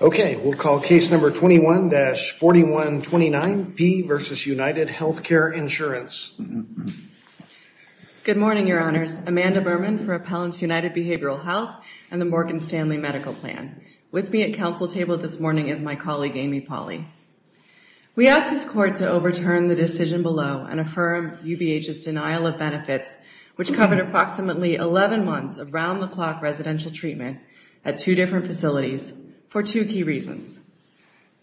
Okay, we'll call case number 21-4129, P. v. United Healthcare Insurance. Good morning, Your Honors. Amanda Berman for Appellants United Behavioral Health and the Morgan Stanley Medical Plan. With me at council table this morning is my colleague Amy Pauley. We ask this court to overturn the decision below and affirm UBH's denial of benefits, which covered approximately 11 months of round-the-clock residential treatment at two different facilities for two key reasons.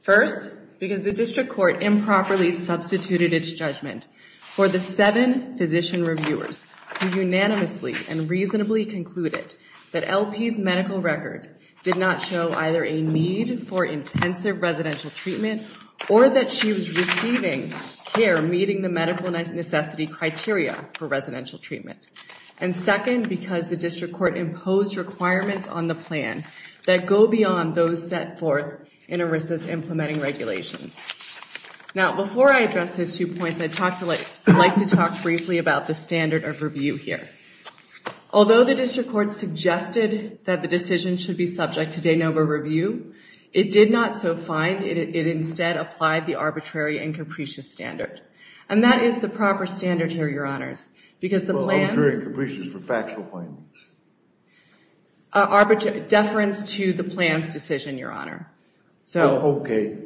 First, because the district court improperly substituted its judgment for the seven physician reviewers who unanimously and reasonably concluded that LP's medical record did not show either a need for intensive residential treatment or that she was receiving care meeting the medical necessity criteria for residential treatment. And second, because the district court imposed requirements on the plan that go beyond those set forth in ERISA's implementing regulations. Now, before I address those two points, I'd like to talk briefly about the standard of review here. Although the district court suggested that the decision should be subject to de novo review, it did not so find. It instead applied the arbitrary and capricious standard. And that is the proper standard here, Your Honors, because the plan- Arbitrary and capricious for factual findings. Deference to the plan's decision, Your Honor. Okay.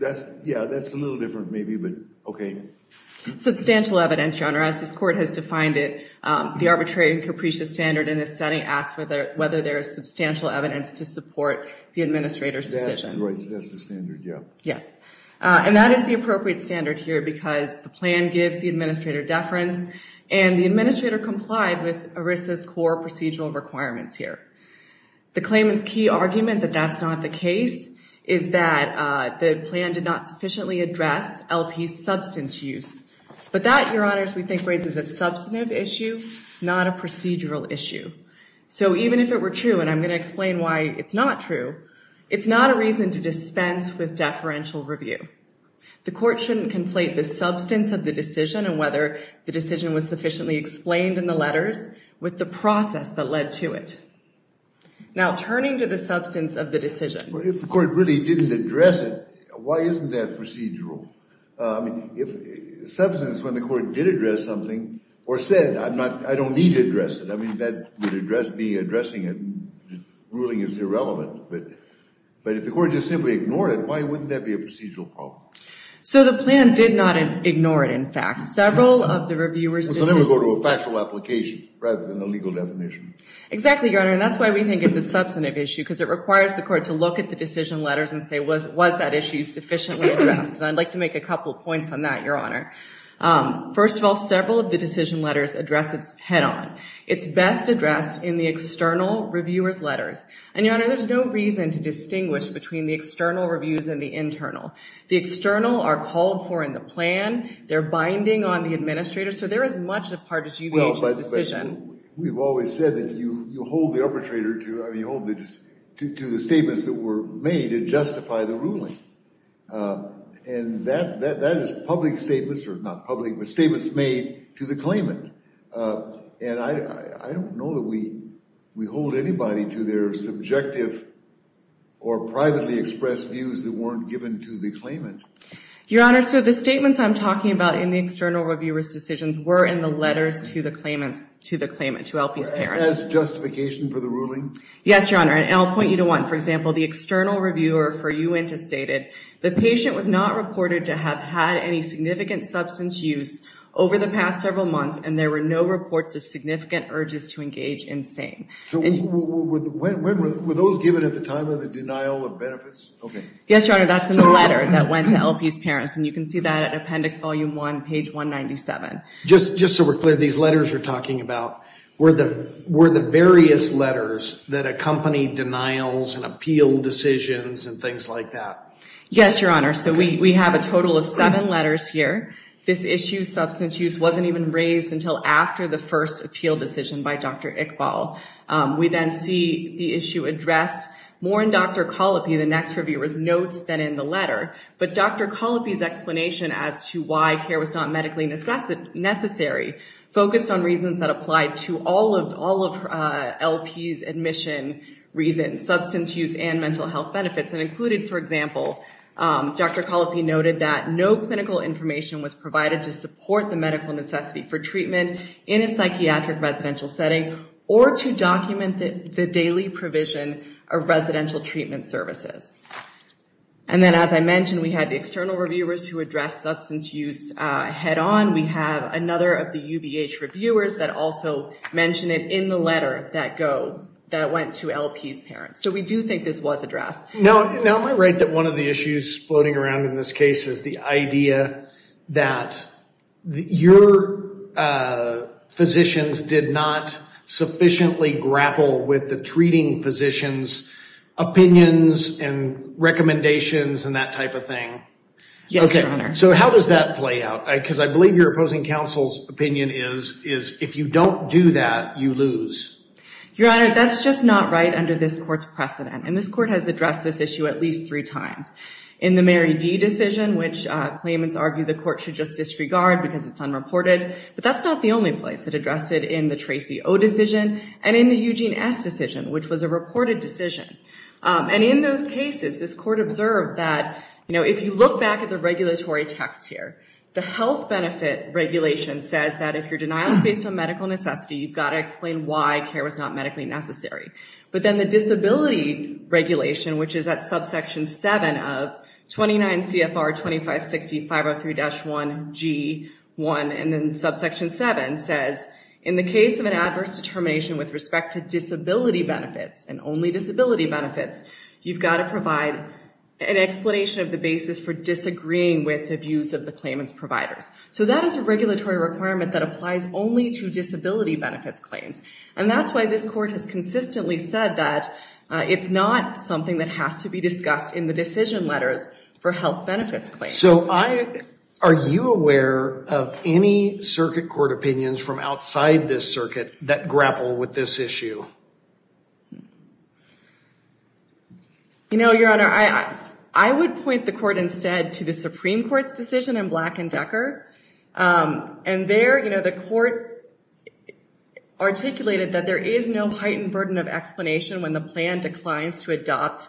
Yeah, that's a little different maybe, but okay. Substantial evidence, Your Honor. As this court has defined it, the arbitrary and capricious standard in this setting asks whether there is substantial evidence to support the administrator's decision. That's the standard, yeah. Yes. And that is the appropriate standard here because the plan gives the administrator deference and the administrator complied with ERISA's core procedural requirements here. The claimant's key argument that that's not the case is that the plan did not sufficiently address LP's substance use. But that, Your Honors, we think raises a substantive issue, not a procedural issue. So even if it were true, and I'm going to explain why it's not true, it's not a reason to dispense with deferential review. The court shouldn't conflate the substance of the decision and whether the decision was sufficiently explained in the letters with the process that led to it. Now, turning to the substance of the decision- Well, if the court really didn't address it, why isn't that procedural? If substance, when the court did address something, or said, I don't need to address it, I mean, that would address me addressing it, ruling is irrelevant. But if the court just simply ignored it, why wouldn't that be a procedural problem? So the plan did not ignore it, in fact. Several of the reviewers- Well, then we go to a factual application rather than a legal definition. Exactly, Your Honor, and that's why we think it's a substantive issue because it requires the court to look at the decision letters and say, was that issue sufficiently addressed? And I'd like to make a couple of points on that, Your Honor. First of all, several of the decision letters address it head-on. It's best addressed in the external reviewer's letters. And, Your Honor, there's no reason to distinguish between the external reviews and the internal. The external are called for in the plan, they're binding on the administrator, so they're as much a part as UBH's decision. We've always said that you hold the arbitrator to the statements that were made to justify the ruling. And that is public statements, or not public, but statements made to the claimant. And I don't know that we hold anybody to their subjective or privately expressed views that weren't given to the claimant. Your Honor, so the statements I'm talking about in the external reviewer's decisions were in the letters to the claimant, to LP's parents. As justification for the ruling? Yes, Your Honor, and I'll point you to one. For example, the external reviewer for UNTA stated, the patient was not reported to have had any significant substance use over the past several months, and there were no reports of significant urges to engage in SANE. Were those given at the time of the denial of benefits? Yes, Your Honor, that's in the letter that went to LP's parents, and you can see that at Appendix Volume 1, page 197. Just so we're clear, these letters you're talking about, were the various letters that accompanied denials and appeal decisions and things like that? Yes, Your Honor, so we have a total of seven letters here. This issue, substance use, wasn't even raised until after the first appeal decision by Dr. Iqbal. We then see the issue addressed more in Dr. Colopy, the next reviewer's notes, than in the letter. But Dr. Colopy's explanation as to why care was not medically necessary focused on reasons that applied to all of LP's admission reasons, substance use and mental health benefits. And included, for example, Dr. Colopy noted that no clinical information was provided to support the medical necessity for treatment in a psychiatric residential setting or to document the daily provision of residential treatment services. And then, as I mentioned, we had the external reviewers who addressed substance use head-on. We have another of the UBH reviewers that also mentioned it in the letter that went to LP's parents. So we do think this was addressed. Now, am I right that one of the issues floating around in this case is the idea that your physicians did not sufficiently grapple with the treating physician's opinions and recommendations and that type of thing? Yes, Your Honor. So how does that play out? Because I believe your opposing counsel's opinion is if you don't do that, you lose. Your Honor, that's just not right under this court's precedent. And this court has addressed this issue at least three times. In the Mary D. decision, which claimants argue the court should just disregard because it's unreported. But that's not the only place it addressed it in the Tracy O. decision and in the Eugene S. decision, which was a reported decision. And in those cases, this court observed that if you look back at the regulatory text here, the health benefit regulation says that if your denial is based on medical necessity, you've got to explain why care was not medically necessary. But then the disability regulation, which is at subsection 7 of 29 CFR 2560-503-1G1, and then subsection 7 says in the case of an adverse determination with respect to disability benefits and only disability benefits, you've got to provide an explanation of the basis for disagreeing with the views of the claimant's providers. So that is a regulatory requirement that applies only to disability benefits claims. And that's why this court has consistently said that it's not something that has to be discussed in the decision letters for health benefits claims. So are you aware of any circuit court opinions from outside this circuit that grapple with this issue? You know, Your Honor, I would point the court instead to the Supreme Court's decision in Black and Decker. And there, you know, the court articulated that there is no heightened burden of explanation when the plan declines to adopt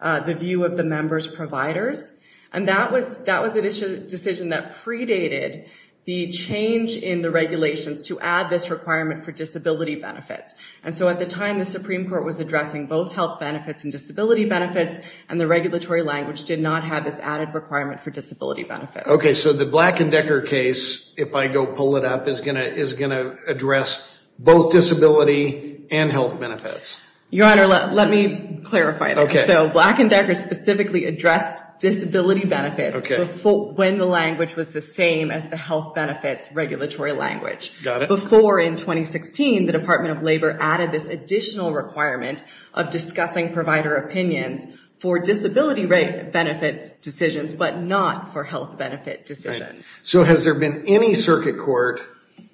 the view of the member's providers. And that was a decision that predated the change in the regulations to add this requirement for disability benefits. And so at the time, the Supreme Court was addressing both health benefits and disability benefits, and the regulatory language did not have this added requirement for disability benefits. Okay, so the Black and Decker case, if I go pull it up, is going to address both disability and health benefits. Your Honor, let me clarify this. So Black and Decker specifically addressed disability benefits when the language was the same as the health benefits regulatory language. Before in 2016, the Department of Labor added this additional requirement of discussing provider opinions for disability rate benefits decisions but not for health benefit decisions. So has there been any circuit court,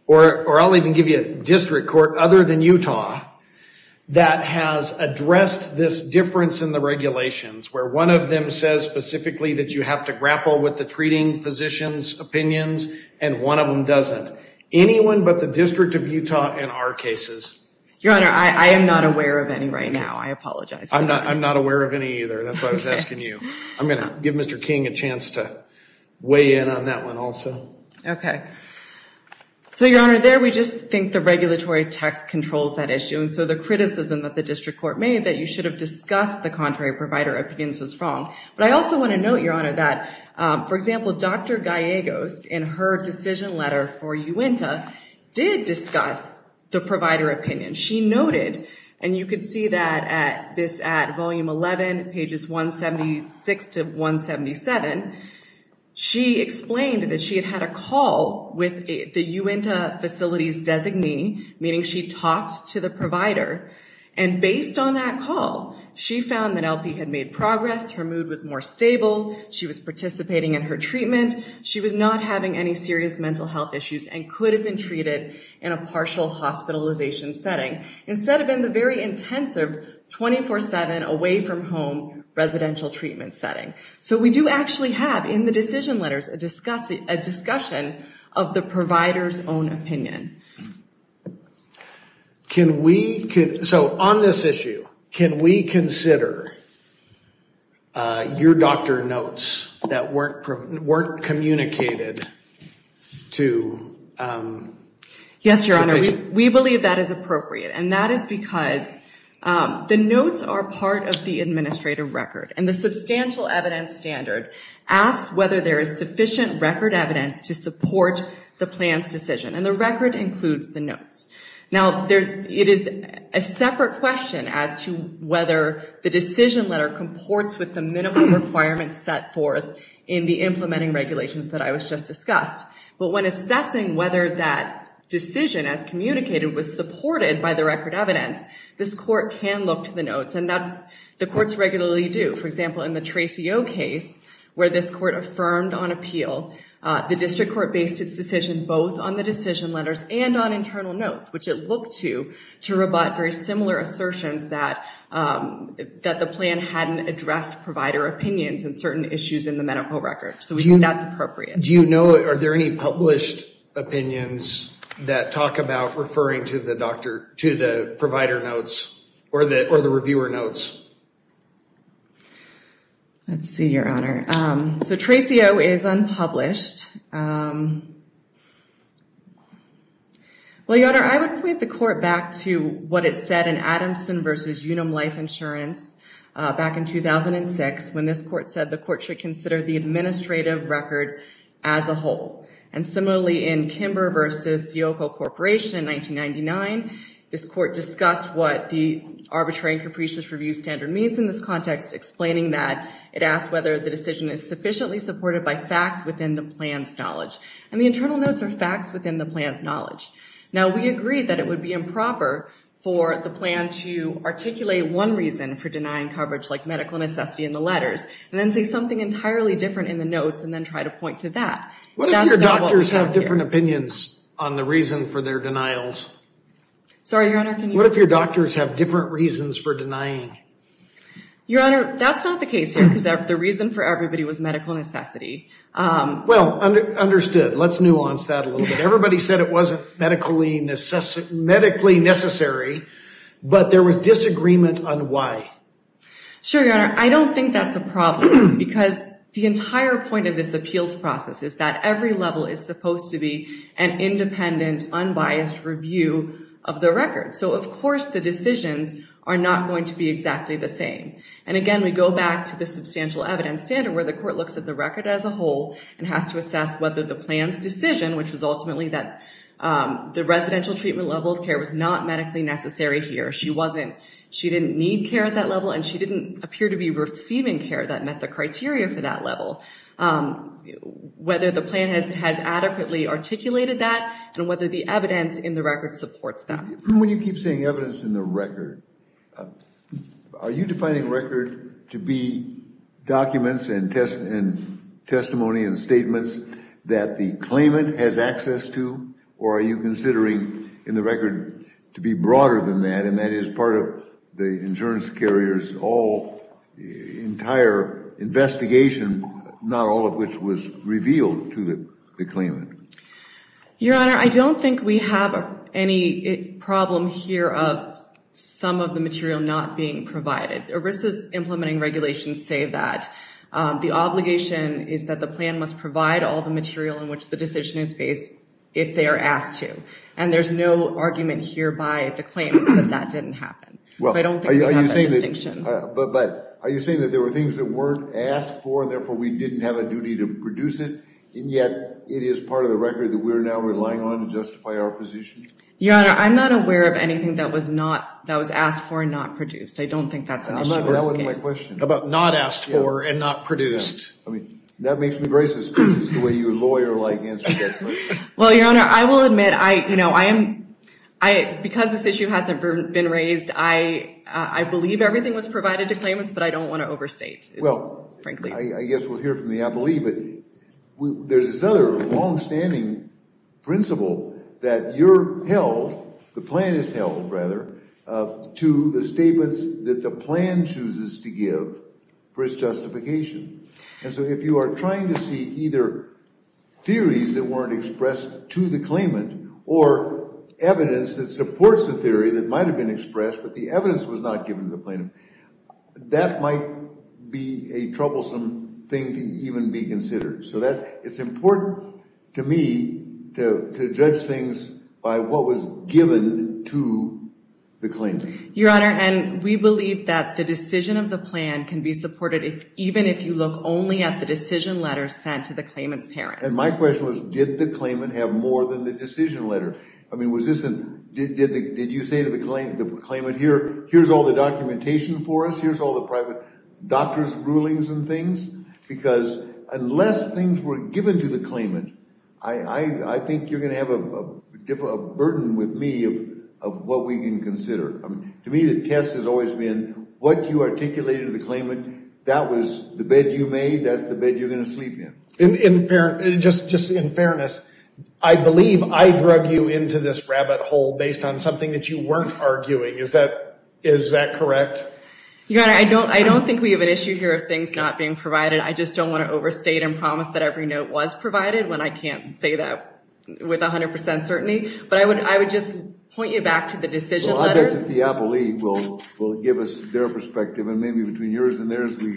or I'll even give you a district court other than Utah, that has addressed this difference in the regulations where one of them says specifically that you have to grapple with the treating physician's opinions and one of them doesn't? Anyone but the District of Utah in our cases? Your Honor, I am not aware of any right now. I apologize. I'm not aware of any either. That's why I was asking you. I'm going to give Mr. King a chance to weigh in on that one also. Okay. So, Your Honor, there we just think the regulatory text controls that issue, and so the criticism that the district court made that you should have discussed the contrary provider opinions was wrong. But I also want to note, Your Honor, that, for example, Dr. Gallegos in her decision letter for UINTA did discuss the provider opinion. She noted, and you can see that at this at Volume 11, pages 176 to 177, she explained that she had had a call with the UINTA facility's designee, meaning she talked to the provider, and based on that call, she found that LP had made progress, her mood was more stable, she was participating in her treatment, she was not having any serious mental health issues and could have been treated in a partial hospitalization setting, instead of in the very intensive, 24-7, away-from-home residential treatment setting. So we do actually have in the decision letters a discussion of the provider's own opinion. Can we, so on this issue, can we consider your doctor notes that weren't communicated to the patient? Yes, Your Honor, we believe that is appropriate, and that is because the notes are part of the administrative record, and the substantial evidence standard asks whether there is sufficient record evidence to support the plan's decision, and the record includes the notes. Now, it is a separate question as to whether the decision letter comports with the minimum requirements set forth in the implementing regulations that I was just discussing, but when assessing whether that decision, as communicated, was supported by the record evidence, this court can look to the notes, and the courts regularly do. For example, in the Tracey O case, where this court affirmed on appeal, the district court based its decision both on the decision letters and on internal notes, which it looked to, to rebut very similar assertions that the plan hadn't addressed provider opinions and certain issues in the medical record. So we think that's appropriate. Do you know, are there any published opinions that talk about referring to the doctor, to the provider notes, or the reviewer notes? Let's see, Your Honor. So Tracey O is unpublished. Well, Your Honor, I would point the court back to what it said in Adamson v. Unum Life Insurance, back in 2006, when this court said the court should consider the administrative record as a whole. And similarly, in Kimber v. Theoko Corporation in 1999, this court discussed what the arbitrary and capricious review standard means in this context, explaining that it asked whether the decision is sufficiently supported by facts within the plan's knowledge. And the internal notes are facts within the plan's knowledge. Now, we agree that it would be improper for the plan to articulate one reason for denying coverage, like medical necessity in the letters, and then say something entirely different in the notes, and then try to point to that. What if your doctors have different opinions on the reason for their denials? Sorry, Your Honor. What if your doctors have different reasons for denying? Your Honor, that's not the case here, because the reason for everybody was medical necessity. Well, understood. Let's nuance that a little bit. Everybody said it wasn't medically necessary, but there was disagreement on why. Sure, Your Honor. I don't think that's a problem, because the entire point of this appeals process is that every level is supposed to be an independent, unbiased review of the record. So, of course, the decisions are not going to be exactly the same. And again, we go back to the substantial evidence standard, where the court looks at the record as a whole and has to assess whether the plan's decision, which was ultimately that the residential treatment level of care was not medically necessary here. She didn't need care at that level, and she didn't appear to be receiving care that met the criteria for that level. Whether the plan has adequately articulated that, and whether the evidence in the record supports that. When you keep saying evidence in the record, are you defining record to be documents and testimony and statements that the claimant has access to, or are you considering in the record to be broader than that, and that is part of the insurance carrier's entire investigation, not all of which was revealed to the claimant? Your Honor, I don't think we have any problem here of some of the material not being provided. ERISA's implementing regulations say that the obligation is that the plan must provide all the material in which the decision is based if they are asked to. And there's no argument here by the claimants that that didn't happen. I don't think we have that distinction. But are you saying that there were things that weren't asked for, and therefore we didn't have a duty to produce it, and yet it is part of the record that we're now relying on to justify our position? Your Honor, I'm not aware of anything that was asked for and not produced. I don't think that's an issue in this case. How about not asked for and not produced? I mean, that makes me gracious because it's the way your lawyer-like answers that question. Well, Your Honor, I will admit, you know, because this issue hasn't been raised, I believe everything was provided to claimants, but I don't want to overstate, frankly. Well, I guess we'll hear from the appellee, but there's this other longstanding principle that you're held, the plan is held, rather, to the statements that the plan chooses to give for its justification. And so if you are trying to see either theories that weren't expressed to the claimant or evidence that supports the theory that might have been expressed, but the evidence was not given to the plaintiff, that might be a troublesome thing to even be considered. So it's important to me to judge things by what was given to the claimant. Your Honor, and we believe that the decision of the plan can be supported even if you look only at the decision letter sent to the claimant's parents. And my question was, did the claimant have more than the decision letter? I mean, did you say to the claimant, here's all the documentation for us, here's all the private doctor's rulings and things? Because unless things were given to the claimant, I think you're going to have a burden with me of what we can consider. To me, the test has always been what you articulated to the claimant, that was the bed you made, that's the bed you're going to sleep in. Just in fairness, I believe I drug you into this rabbit hole based on something that you weren't arguing. Is that correct? Your Honor, I don't think we have an issue here of things not being provided. I just don't want to overstate and promise that every note was provided when I can't say that with 100% certainty. But I would just point you back to the decision letters. Well, I'll get to the appellee. We'll give us their perspective. And maybe between yours and theirs, we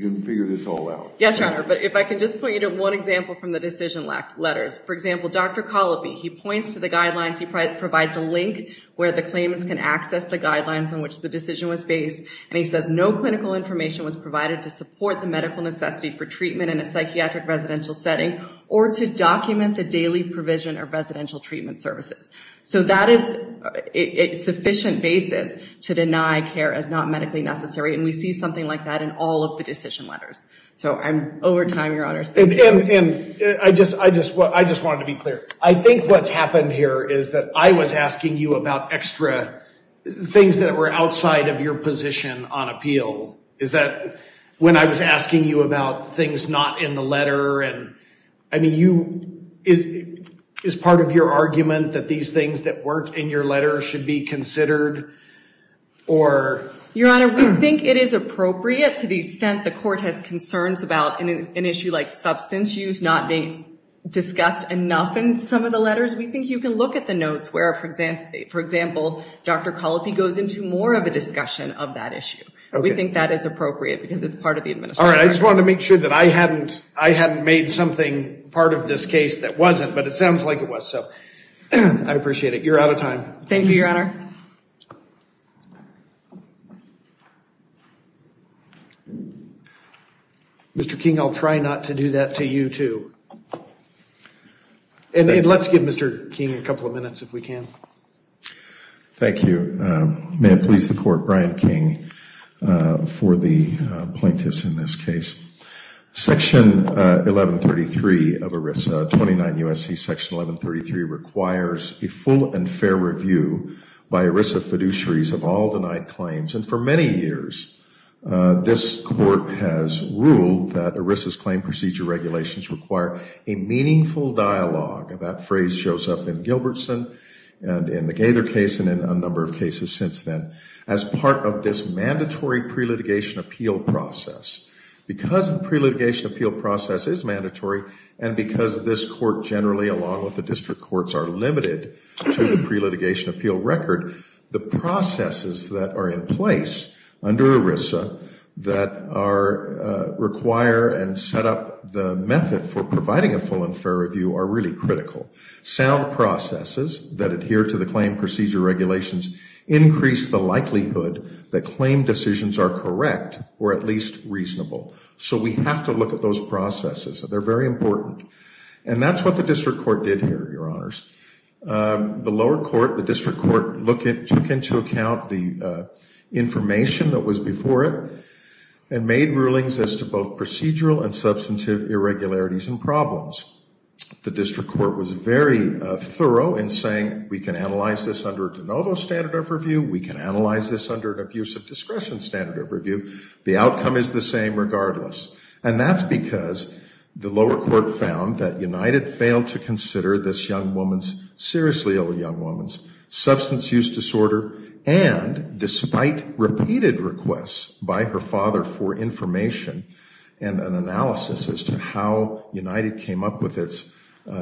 can figure this all out. Yes, Your Honor. But if I can just point you to one example from the decision letters. For example, Dr. Colopy, he points to the guidelines. He provides a link where the claimants can access the guidelines on which the decision was based. And he says no clinical information was provided to support the medical necessity for treatment in a psychiatric residential setting or to document the daily provision of residential treatment services. So that is a sufficient basis to deny care as not medically necessary. And we see something like that in all of the decision letters. So I'm over time, Your Honors. And I just wanted to be clear. I think what's happened here is that I was asking you about extra things that were outside of your position on appeal. Is that when I was asking you about things not in the letter? I mean, is part of your argument that these things that weren't in your letter should be considered? Your Honor, we think it is appropriate to the extent the court has concerns about an issue like substance use not being discussed enough in some of the letters. We think you can look at the notes where, for example, Dr. Colopy goes into more of a discussion of that issue. We think that is appropriate because it's part of the administration. All right. I just wanted to make sure that I hadn't made something part of this case that wasn't, but it sounds like it was. So I appreciate it. You're out of time. Thank you, Your Honor. Mr. King, I'll try not to do that to you, too. And let's give Mr. King a couple of minutes, if we can. Thank you. May it please the Court, Brian King, for the plaintiffs in this case. Section 1133 of ERISA, 29 U.S.C. Section 1133, requires a full and fair review by ERISA fiduciaries of all denied claims. And for many years, this Court has ruled that ERISA's claim procedure regulations require a meaningful dialogue. That phrase shows up in Gilbertson and in the Gaither case and in a number of cases since then, as part of this mandatory pre-litigation appeal process. Because the pre-litigation appeal process is mandatory and because this Court generally, along with the district courts, are limited to the pre-litigation appeal record, the processes that are in place under ERISA that require and set up the method for providing a full and fair review are really critical. Sound processes that adhere to the claim procedure regulations increase the likelihood that claim decisions are correct or at least reasonable. So we have to look at those processes. They're very important. And that's what the district court did here, Your Honors. The lower court, the district court, took into account the information that was before it and made rulings as to both procedural and substantive irregularities and problems. The district court was very thorough in saying, we can analyze this under de novo standard of review, we can analyze this under an abuse of discretion standard of review, the outcome is the same regardless. And that's because the lower court found that United failed to consider this young woman's, seriously ill young woman's, substance use disorder and despite repeated requests by her father for information and an analysis as to how United came up with its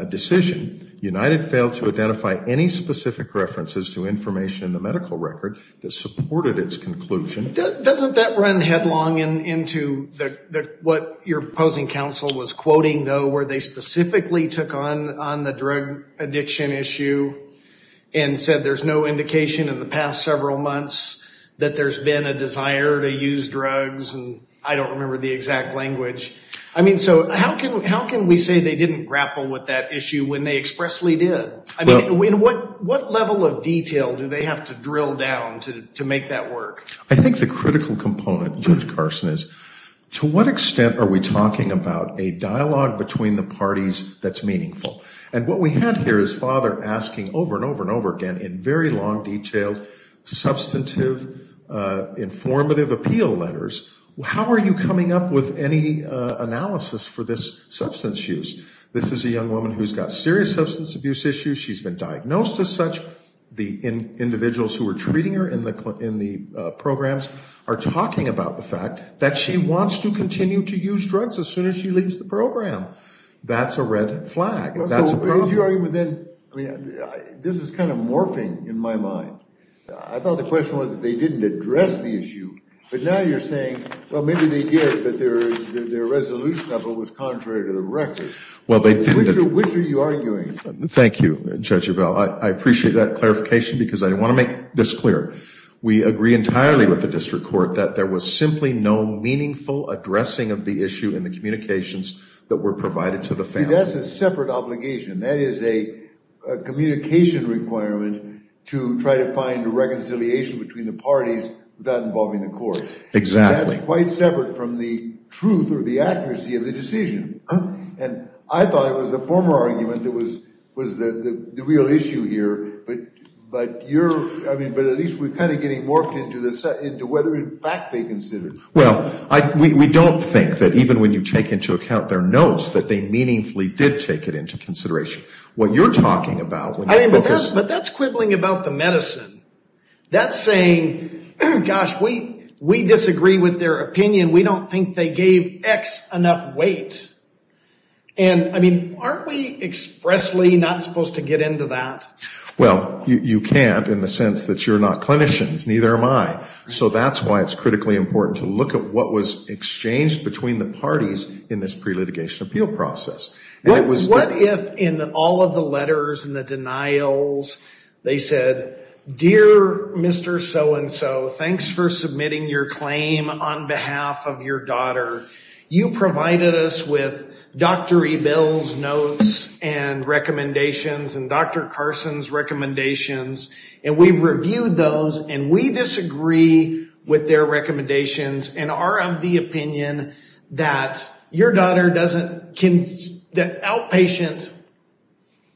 decision, United failed to identify any specific references to information in the medical record that supported its conclusion. Doesn't that run headlong into what your opposing counsel was quoting, though, where they specifically took on the drug addiction issue and said there's no indication in the past several months that there's been a desire to use drugs and I don't remember the exact language. I mean, so how can we say they didn't grapple with that issue when they expressly did? I mean, what level of detail do they have to drill down to make that work? I think the critical component, Judge Carson, is to what extent are we talking about a dialogue between the parties that's meaningful? And what we had here is father asking over and over and over again in very long, detailed, substantive, informative appeal letters, how are you coming up with any analysis for this substance use? This is a young woman who's got serious substance abuse issues. She's been diagnosed as such. The individuals who are treating her in the programs are talking about the fact that she wants to continue to use drugs as soon as she leaves the program. That's a red flag. This is kind of morphing in my mind. I thought the question was that they didn't address the issue, but now you're saying, well, maybe they did, but their resolution of it was contrary to the record. Which are you arguing? Thank you, Judge Rebell. I appreciate that clarification because I want to make this clear. We agree entirely with the district court that there was simply no meaningful addressing of the issue in the communications that were provided to the family. See, that's a separate obligation. That is a communication requirement to try to find reconciliation between the parties without involving the court. Exactly. That's quite separate from the truth or the accuracy of the decision. And I thought it was the former argument that was the real issue here, but at least we're kind of getting morphed into whether, in fact, they considered. Well, we don't think that even when you take into account their notes, that they meaningfully did take it into consideration. What you're talking about when you focus. But that's quibbling about the medicine. That's saying, gosh, we disagree with their opinion. We don't think they gave X enough weight. And, I mean, aren't we expressly not supposed to get into that? Well, you can't in the sense that you're not clinicians. Neither am I. So that's why it's critically important to look at what was exchanged between the parties in this pre-litigation appeal process. What if in all of the letters and the denials they said, dear Mr. So-and-so, thanks for submitting your claim on behalf of your daughter. You provided us with Dr. Ebell's notes and recommendations and Dr. Carson's recommendations. And we've reviewed those, and we disagree with their recommendations and are of the opinion that outpatient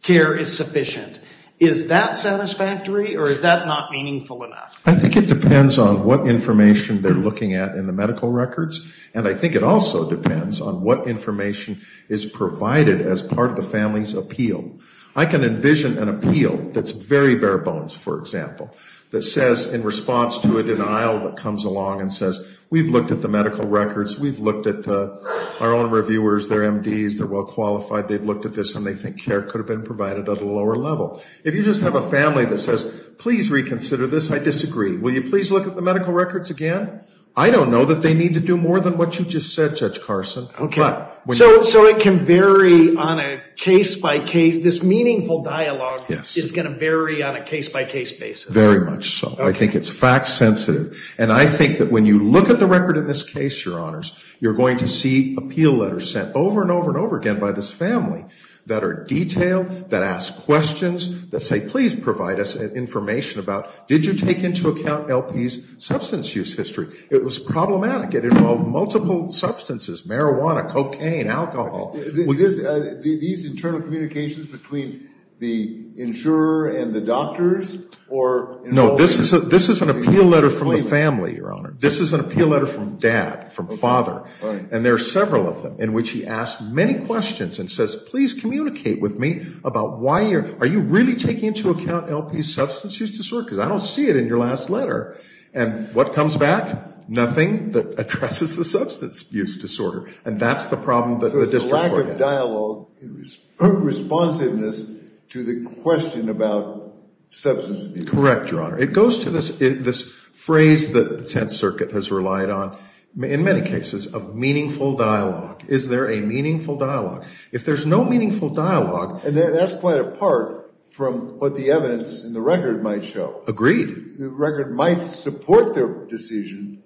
care is sufficient. Is that satisfactory, or is that not meaningful enough? I think it depends on what information they're looking at in the medical records. And I think it also depends on what information is provided as part of the family's appeal. I can envision an appeal that's very bare bones, for example, that says in response to a denial that comes along and says, we've looked at the medical records, we've looked at our own reviewers, they're MDs, they're well-qualified, they've looked at this, and they think care could have been provided at a lower level. If you just have a family that says, please reconsider this, I disagree. Will you please look at the medical records again? I don't know that they need to do more than what you just said, Judge Carson. So it can vary on a case-by-case? This meaningful dialogue is going to vary on a case-by-case basis? Very much so. I think it's fact-sensitive. And I think that when you look at the record in this case, Your Honors, you're going to see appeal letters sent over and over and over again by this family that are detailed, that ask questions, that say, please provide us information about, did you take into account LP's substance use history? It was problematic. It involved multiple substances, marijuana, cocaine, alcohol. These internal communications between the insurer and the doctors? No, this is an appeal letter from the family, Your Honor. This is an appeal letter from dad, from father. And there are several of them in which he asks many questions and says, please communicate with me about why you're, are you really taking into account LP's substance use history? Because I don't see it in your last letter. And what comes back? Nothing that addresses the substance use disorder. And that's the problem that the district court has. So it's the lack of dialogue, responsiveness to the question about substance abuse. Correct, Your Honor. It goes to this phrase that the Tenth Circuit has relied on, in many cases, of meaningful dialogue. Is there a meaningful dialogue? If there's no meaningful dialogue. And that's quite apart from what the evidence in the record might show. Agreed. The record might support their decision,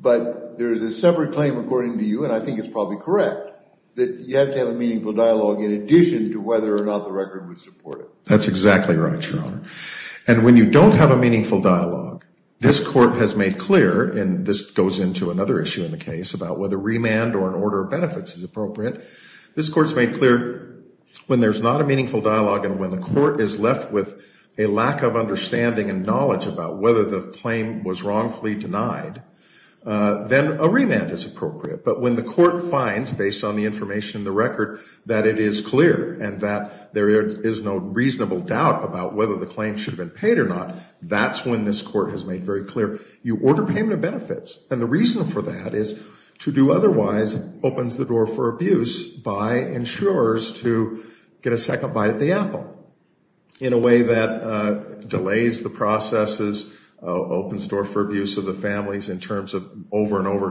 but there is a separate claim according to you, and I think it's probably correct, that you have to have a meaningful dialogue in addition to whether or not the record would support it. That's exactly right, Your Honor. And when you don't have a meaningful dialogue, this court has made clear, and this goes into another issue in the case, about whether remand or an order of benefits is appropriate. This court's made clear when there's not a meaningful dialogue and when the claim was wrongfully denied, then a remand is appropriate. But when the court finds, based on the information in the record, that it is clear and that there is no reasonable doubt about whether the claim should have been paid or not, that's when this court has made very clear, you order payment of benefits. And the reason for that is to do otherwise opens the door for abuse by insurers to get a second bite at the apple in a way that delays the process opens the door for abuse of the families in terms of over and over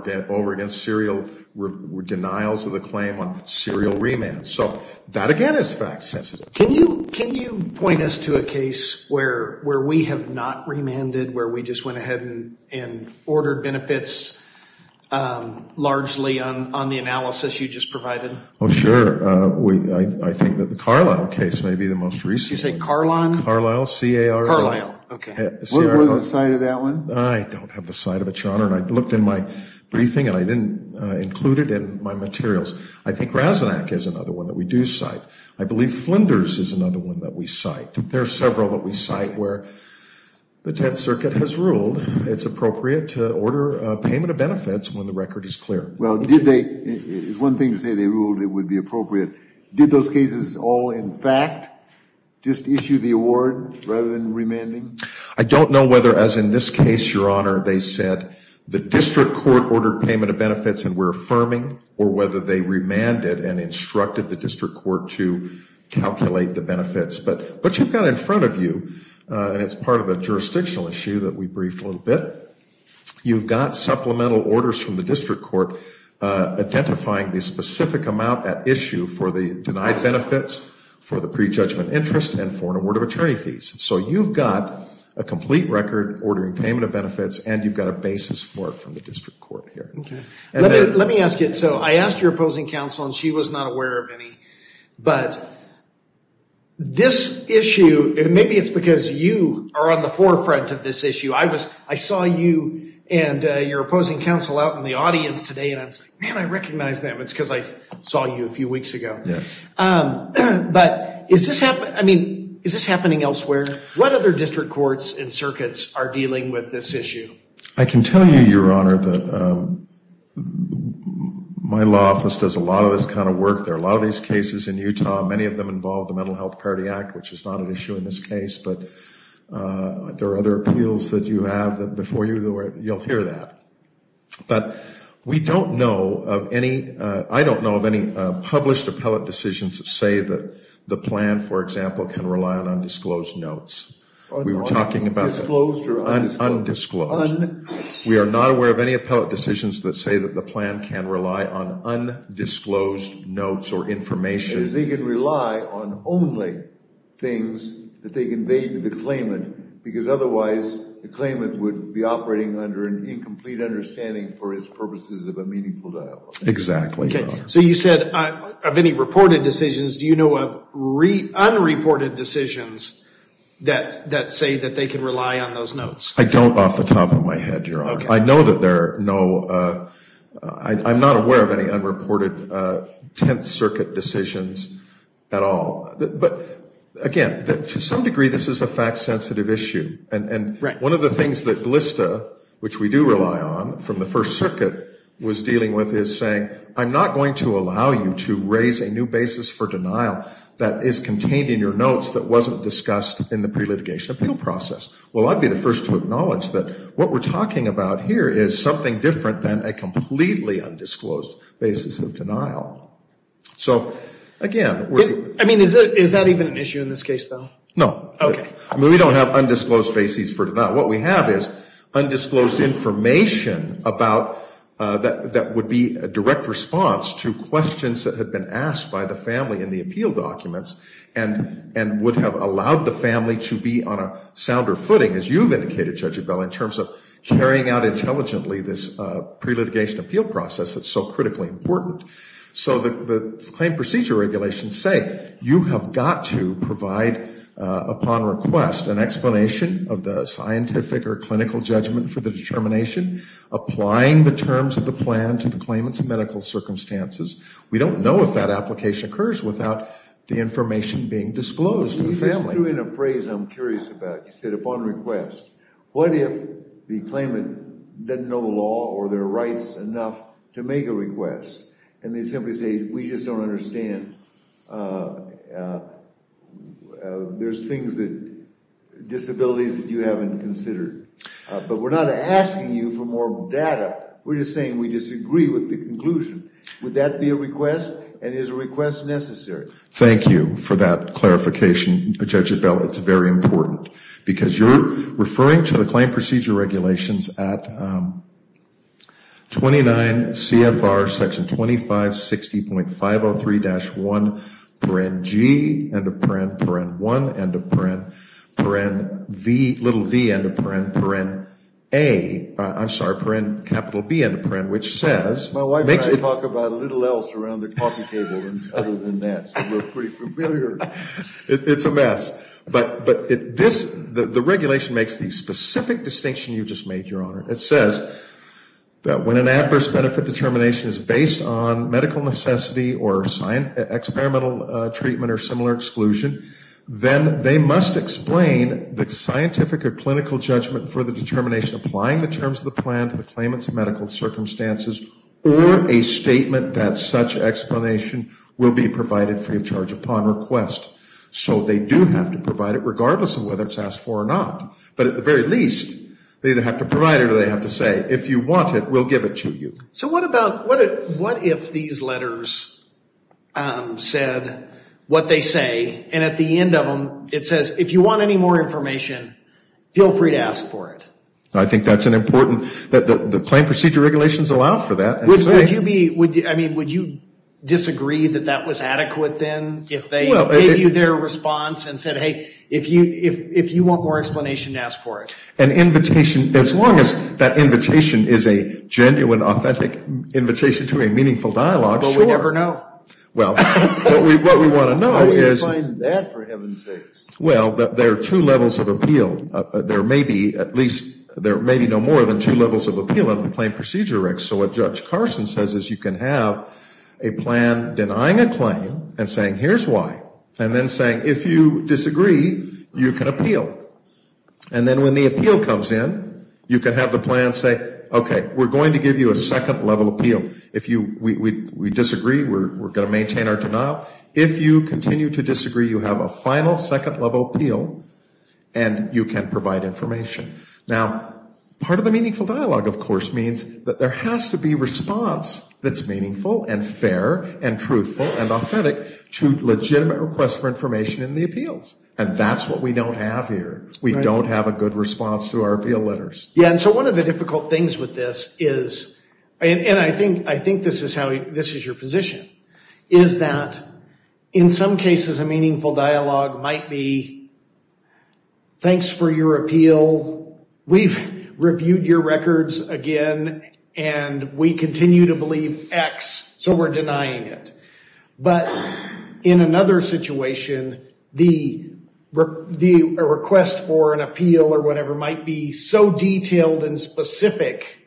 again, serial denials of the claim on serial remands. So that, again, is fact sensitive. Can you point us to a case where we have not remanded, where we just went ahead and ordered benefits, largely on the analysis you just provided? Oh, sure. I think that the Carlisle case may be the most recent. Did you say Carlisle? Carlisle, C-A-R-L-I-S-L-E. Carlisle, okay. What was the site of that one? I don't have the site of it, Your Honor, and I looked in my briefing and I didn't include it in my materials. I think Razanac is another one that we do cite. I believe Flinders is another one that we cite. There are several that we cite where the Tenth Circuit has ruled it's appropriate to order payment of benefits when the record is clear. Well, did they – it's one thing to say they ruled it would be appropriate. Did those cases all, in fact, just issue the award rather than remanding? I don't know whether, as in this case, Your Honor, they said the district court ordered payment of benefits and we're affirming or whether they remanded and instructed the district court to calculate the benefits. But what you've got in front of you, and it's part of a jurisdictional issue that we briefed a little bit, you've got supplemental orders from the district court identifying the specific amount at issue for the denied benefits, for the prejudgment interest, and for an award of attorney fees. So you've got a complete record ordering payment of benefits and you've got a basis for it from the district court here. Let me ask you. So I asked your opposing counsel and she was not aware of any, but this issue – maybe it's because you are on the forefront of this issue. I saw you and your opposing counsel out in the audience today and I was like, man, I recognize them. It's because I saw you a few weeks ago. Yes. But is this happening elsewhere? What other district courts and circuits are dealing with this issue? I can tell you, Your Honor, that my law office does a lot of this kind of work there. A lot of these cases in Utah, many of them involve the Mental Health Parity Act, which is not an issue in this case, but there are other appeals that you have that before you, you'll hear that. But we don't know of any – I don't know of any published appellate decisions that say that the plan, for example, can rely on undisclosed notes. Undisclosed or undisclosed? Undisclosed. We are not aware of any appellate decisions that say that the plan can rely on undisclosed notes or information. That is, they can rely on only things that they convey to the claimant because otherwise the claimant would be operating under an incomplete understanding for its purposes of a meaningful dialogue. Exactly, Your Honor. So you said of any reported decisions, do you know of unreported decisions that say that they can rely on those notes? I don't off the top of my head, Your Honor. I know that there are no – I'm not aware of any unreported Tenth Circuit decisions at all. But, again, to some degree this is a fact-sensitive issue. And one of the things that GLSTA, which we do rely on from the First Circuit, was dealing with is saying, I'm not going to allow you to raise a new basis for denial that is contained in your notes that wasn't discussed in the pre-litigation appeal process. Well, I'd be the first to acknowledge that what we're talking about here So, again, we're – I mean, is that even an issue in this case, though? No. Okay. I mean, we don't have undisclosed basis for denial. What we have is undisclosed information about – that would be a direct response to questions that had been asked by the family in the appeal documents and would have allowed the family to be on a sounder footing, as you've indicated, Judge Abell, in terms of carrying out intelligently this pre-litigation appeal process that's so critically important. So the claim procedure regulations say, you have got to provide, upon request, an explanation of the scientific or clinical judgment for the determination, applying the terms of the plan to the claimant's medical circumstances. We don't know if that application occurs without the information being disclosed to the family. You just threw in a phrase I'm curious about. You said, upon request. What if the claimant doesn't know the law or their rights enough to make a request and they simply say, we just don't understand. There's things that – disabilities that you haven't considered. But we're not asking you for more data. We're just saying we disagree with the conclusion. Would that be a request, and is a request necessary? Thank you for that clarification, Judge Abell. It's very important. Because you're referring to the claim procedure regulations at 29 CFR Section 2560.503-1, paren g, end of paren, paren 1, end of paren, paren v, little v, end of paren, paren a, I'm sorry, paren capital B, end of paren, which says – My wife and I talk about a little else around the coffee table other than that. We're pretty familiar. It's a mess. But the regulation makes the specific distinction you just made, Your Honor. It says that when an adverse benefit determination is based on medical necessity or experimental treatment or similar exclusion, then they must explain the scientific or clinical judgment for the determination applying the terms of the plan to the claimant's medical circumstances or a statement that such explanation will be provided free of charge upon request. So they do have to provide it regardless of whether it's asked for or not. But at the very least, they either have to provide it or they have to say, if you want it, we'll give it to you. So what if these letters said what they say, and at the end of them it says, if you want any more information, feel free to ask for it? I think that's an important – the claim procedure regulations allow for that. Would you disagree that that was adequate then if they gave you their response and said, hey, if you want more explanation, ask for it? An invitation – as long as that invitation is a genuine, authentic invitation to a meaningful dialogue, sure. But we never know. Well, what we want to know is – How do you define that, for heaven's sakes? Well, there are two levels of appeal. There may be at least – there may be no more than two levels of appeal in the claim procedure regs. So what Judge Carson says is you can have a plan denying a claim and saying, here's why, and then saying, if you disagree, you can appeal. And then when the appeal comes in, you can have the plan say, okay, we're going to give you a second level appeal. If we disagree, we're going to maintain our denial. If you continue to disagree, you have a final second level appeal and you can provide information. Now, part of the meaningful dialogue, of course, means that there has to be response that's meaningful and fair and truthful and authentic to legitimate requests for information in the appeals. And that's what we don't have here. We don't have a good response to our appeal letters. Yeah, and so one of the difficult things with this is – and I think this is how – this is your position – is that in some cases a meaningful dialogue might be, thanks for your appeal. We've reviewed your records again, and we continue to believe X, so we're denying it. But in another situation, the request for an appeal or whatever might be so detailed and specific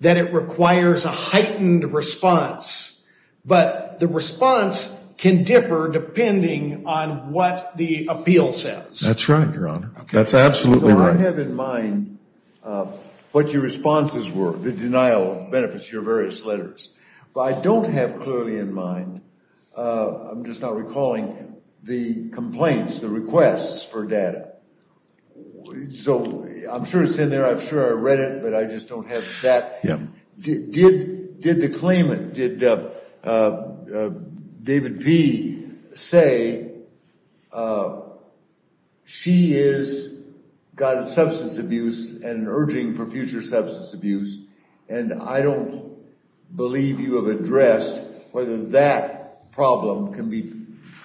that it requires a heightened response. But the response can differ depending on what the appeal says. That's right, Your Honor. That's absolutely right. So I have in mind what your responses were. The denial benefits your various letters. But I don't have clearly in mind – I'm just now recalling the complaints, the requests for data. So I'm sure it's in there. I'm sure I read it, but I just don't have that. Yeah. Did the claimant, did David P. say, she has got substance abuse and urging for future substance abuse, and I don't believe you have addressed whether that problem can be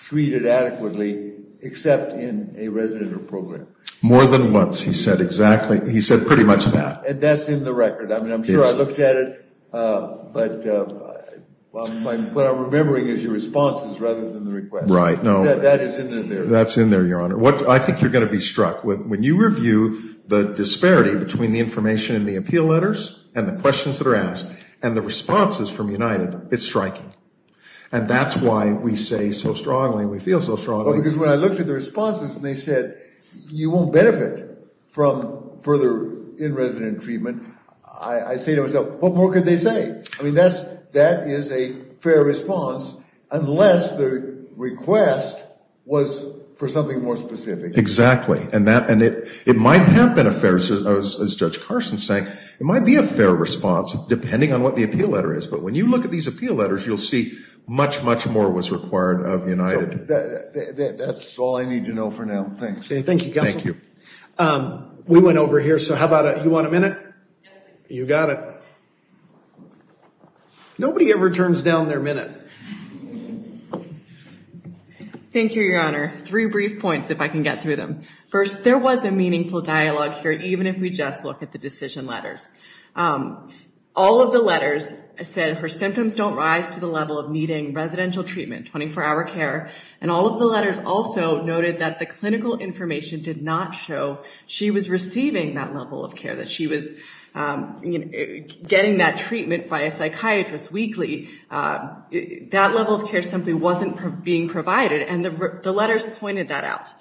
treated adequately except in a residential program. More than once he said exactly – he said pretty much that. And that's in the record. I mean, I'm sure I looked at it, but what I'm remembering is your responses rather than the request. Right. That is in there. That's in there, Your Honor. I think you're going to be struck. When you review the disparity between the information in the appeal letters and the questions that are asked and the responses from United, it's striking. And that's why we say so strongly and we feel so strongly. Because when I looked at the responses and they said, you won't benefit from further in-resident treatment, I say to myself, what more could they say? I mean, that is a fair response unless the request was for something more specific. Exactly. And it might have been a fair, as Judge Carson is saying, it might be a fair response depending on what the appeal letter is. But when you look at these appeal letters, you'll see much, much more was required of United. That's all I need to know for now. Thanks. Thank you, Counsel. Thank you. We went over here, so how about you want a minute? You got it. Nobody ever turns down their minute. Thank you, Your Honor. Three brief points, if I can get through them. First, there was a meaningful dialogue here, even if we just look at the decision letters. All of the letters said her symptoms don't rise to the level of needing residential treatment, 24-hour care. And all of the letters also noted that the clinical information did not show she was receiving that level of care, that she was getting that treatment by a psychiatrist weekly. That level of care simply wasn't being provided. And the letters pointed that out.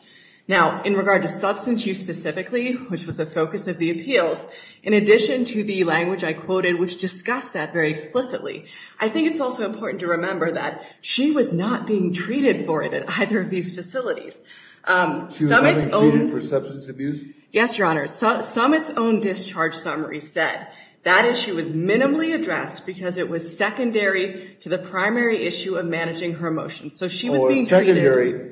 Now, in regard to substance use specifically, which was the focus of the appeals, in addition to the language I quoted, which discussed that very explicitly, I think it's also important to remember that she was not being treated for it at either of these facilities. She was not being treated for substance abuse? Yes, Your Honor. Summit's own discharge summary said that issue was minimally addressed because it was secondary to the primary issue of managing her emotions. So she was being treated. Oh, secondary.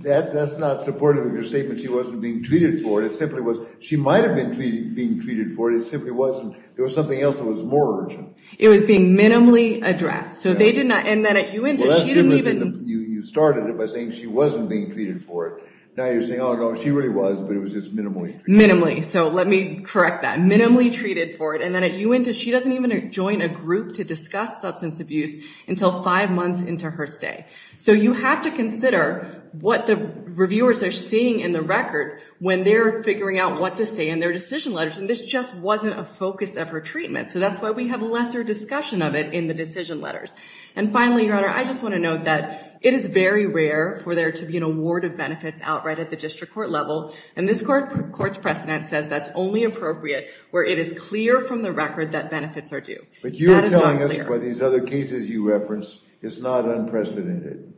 That's not supportive of your statement, she wasn't being treated for it. It simply was she might have been being treated for it. It simply wasn't. There was something else that was more urgent. It was being minimally addressed. So they did not. And then at UINTIS, she didn't even. Well, last year you started it by saying she wasn't being treated for it. Now you're saying, oh, no, she really was, but it was just minimally treated. Minimally. So let me correct that. Minimally treated for it. And then at UINTIS, she doesn't even join a group to discuss substance abuse until five months into her stay. So you have to consider what the reviewers are seeing in the record when they're figuring out what to say in their decision letters. And this just wasn't a focus of her treatment. So that's why we have lesser discussion of it in the decision letters. And finally, Your Honor, I just want to note that it is very rare for there to be an award of benefits outright at the district court level. And this court's precedent says that's only appropriate where it is clear from the record that benefits are due. But you're telling us what these other cases you reference is not unprecedented.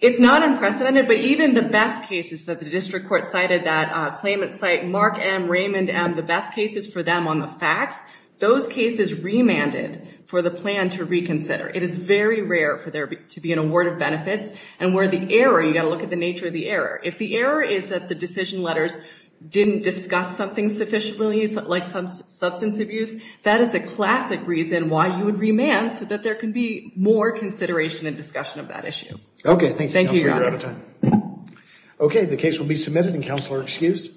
It's not unprecedented. But even the best cases that the district court cited, that claimant cite Mark M., Raymond M., the best cases for them on the facts, those cases remanded for the plan to reconsider. It is very rare for there to be an award of benefits. And where the error, you've got to look at the nature of the error. If the error is that the decision letters didn't discuss something sufficiently, like some substance abuse, that is a classic reason why you would remand so that there can be more consideration and discussion of that issue. Okay, thank you. Thank you, Your Honor. Okay, the case will be submitted and counsel are excused.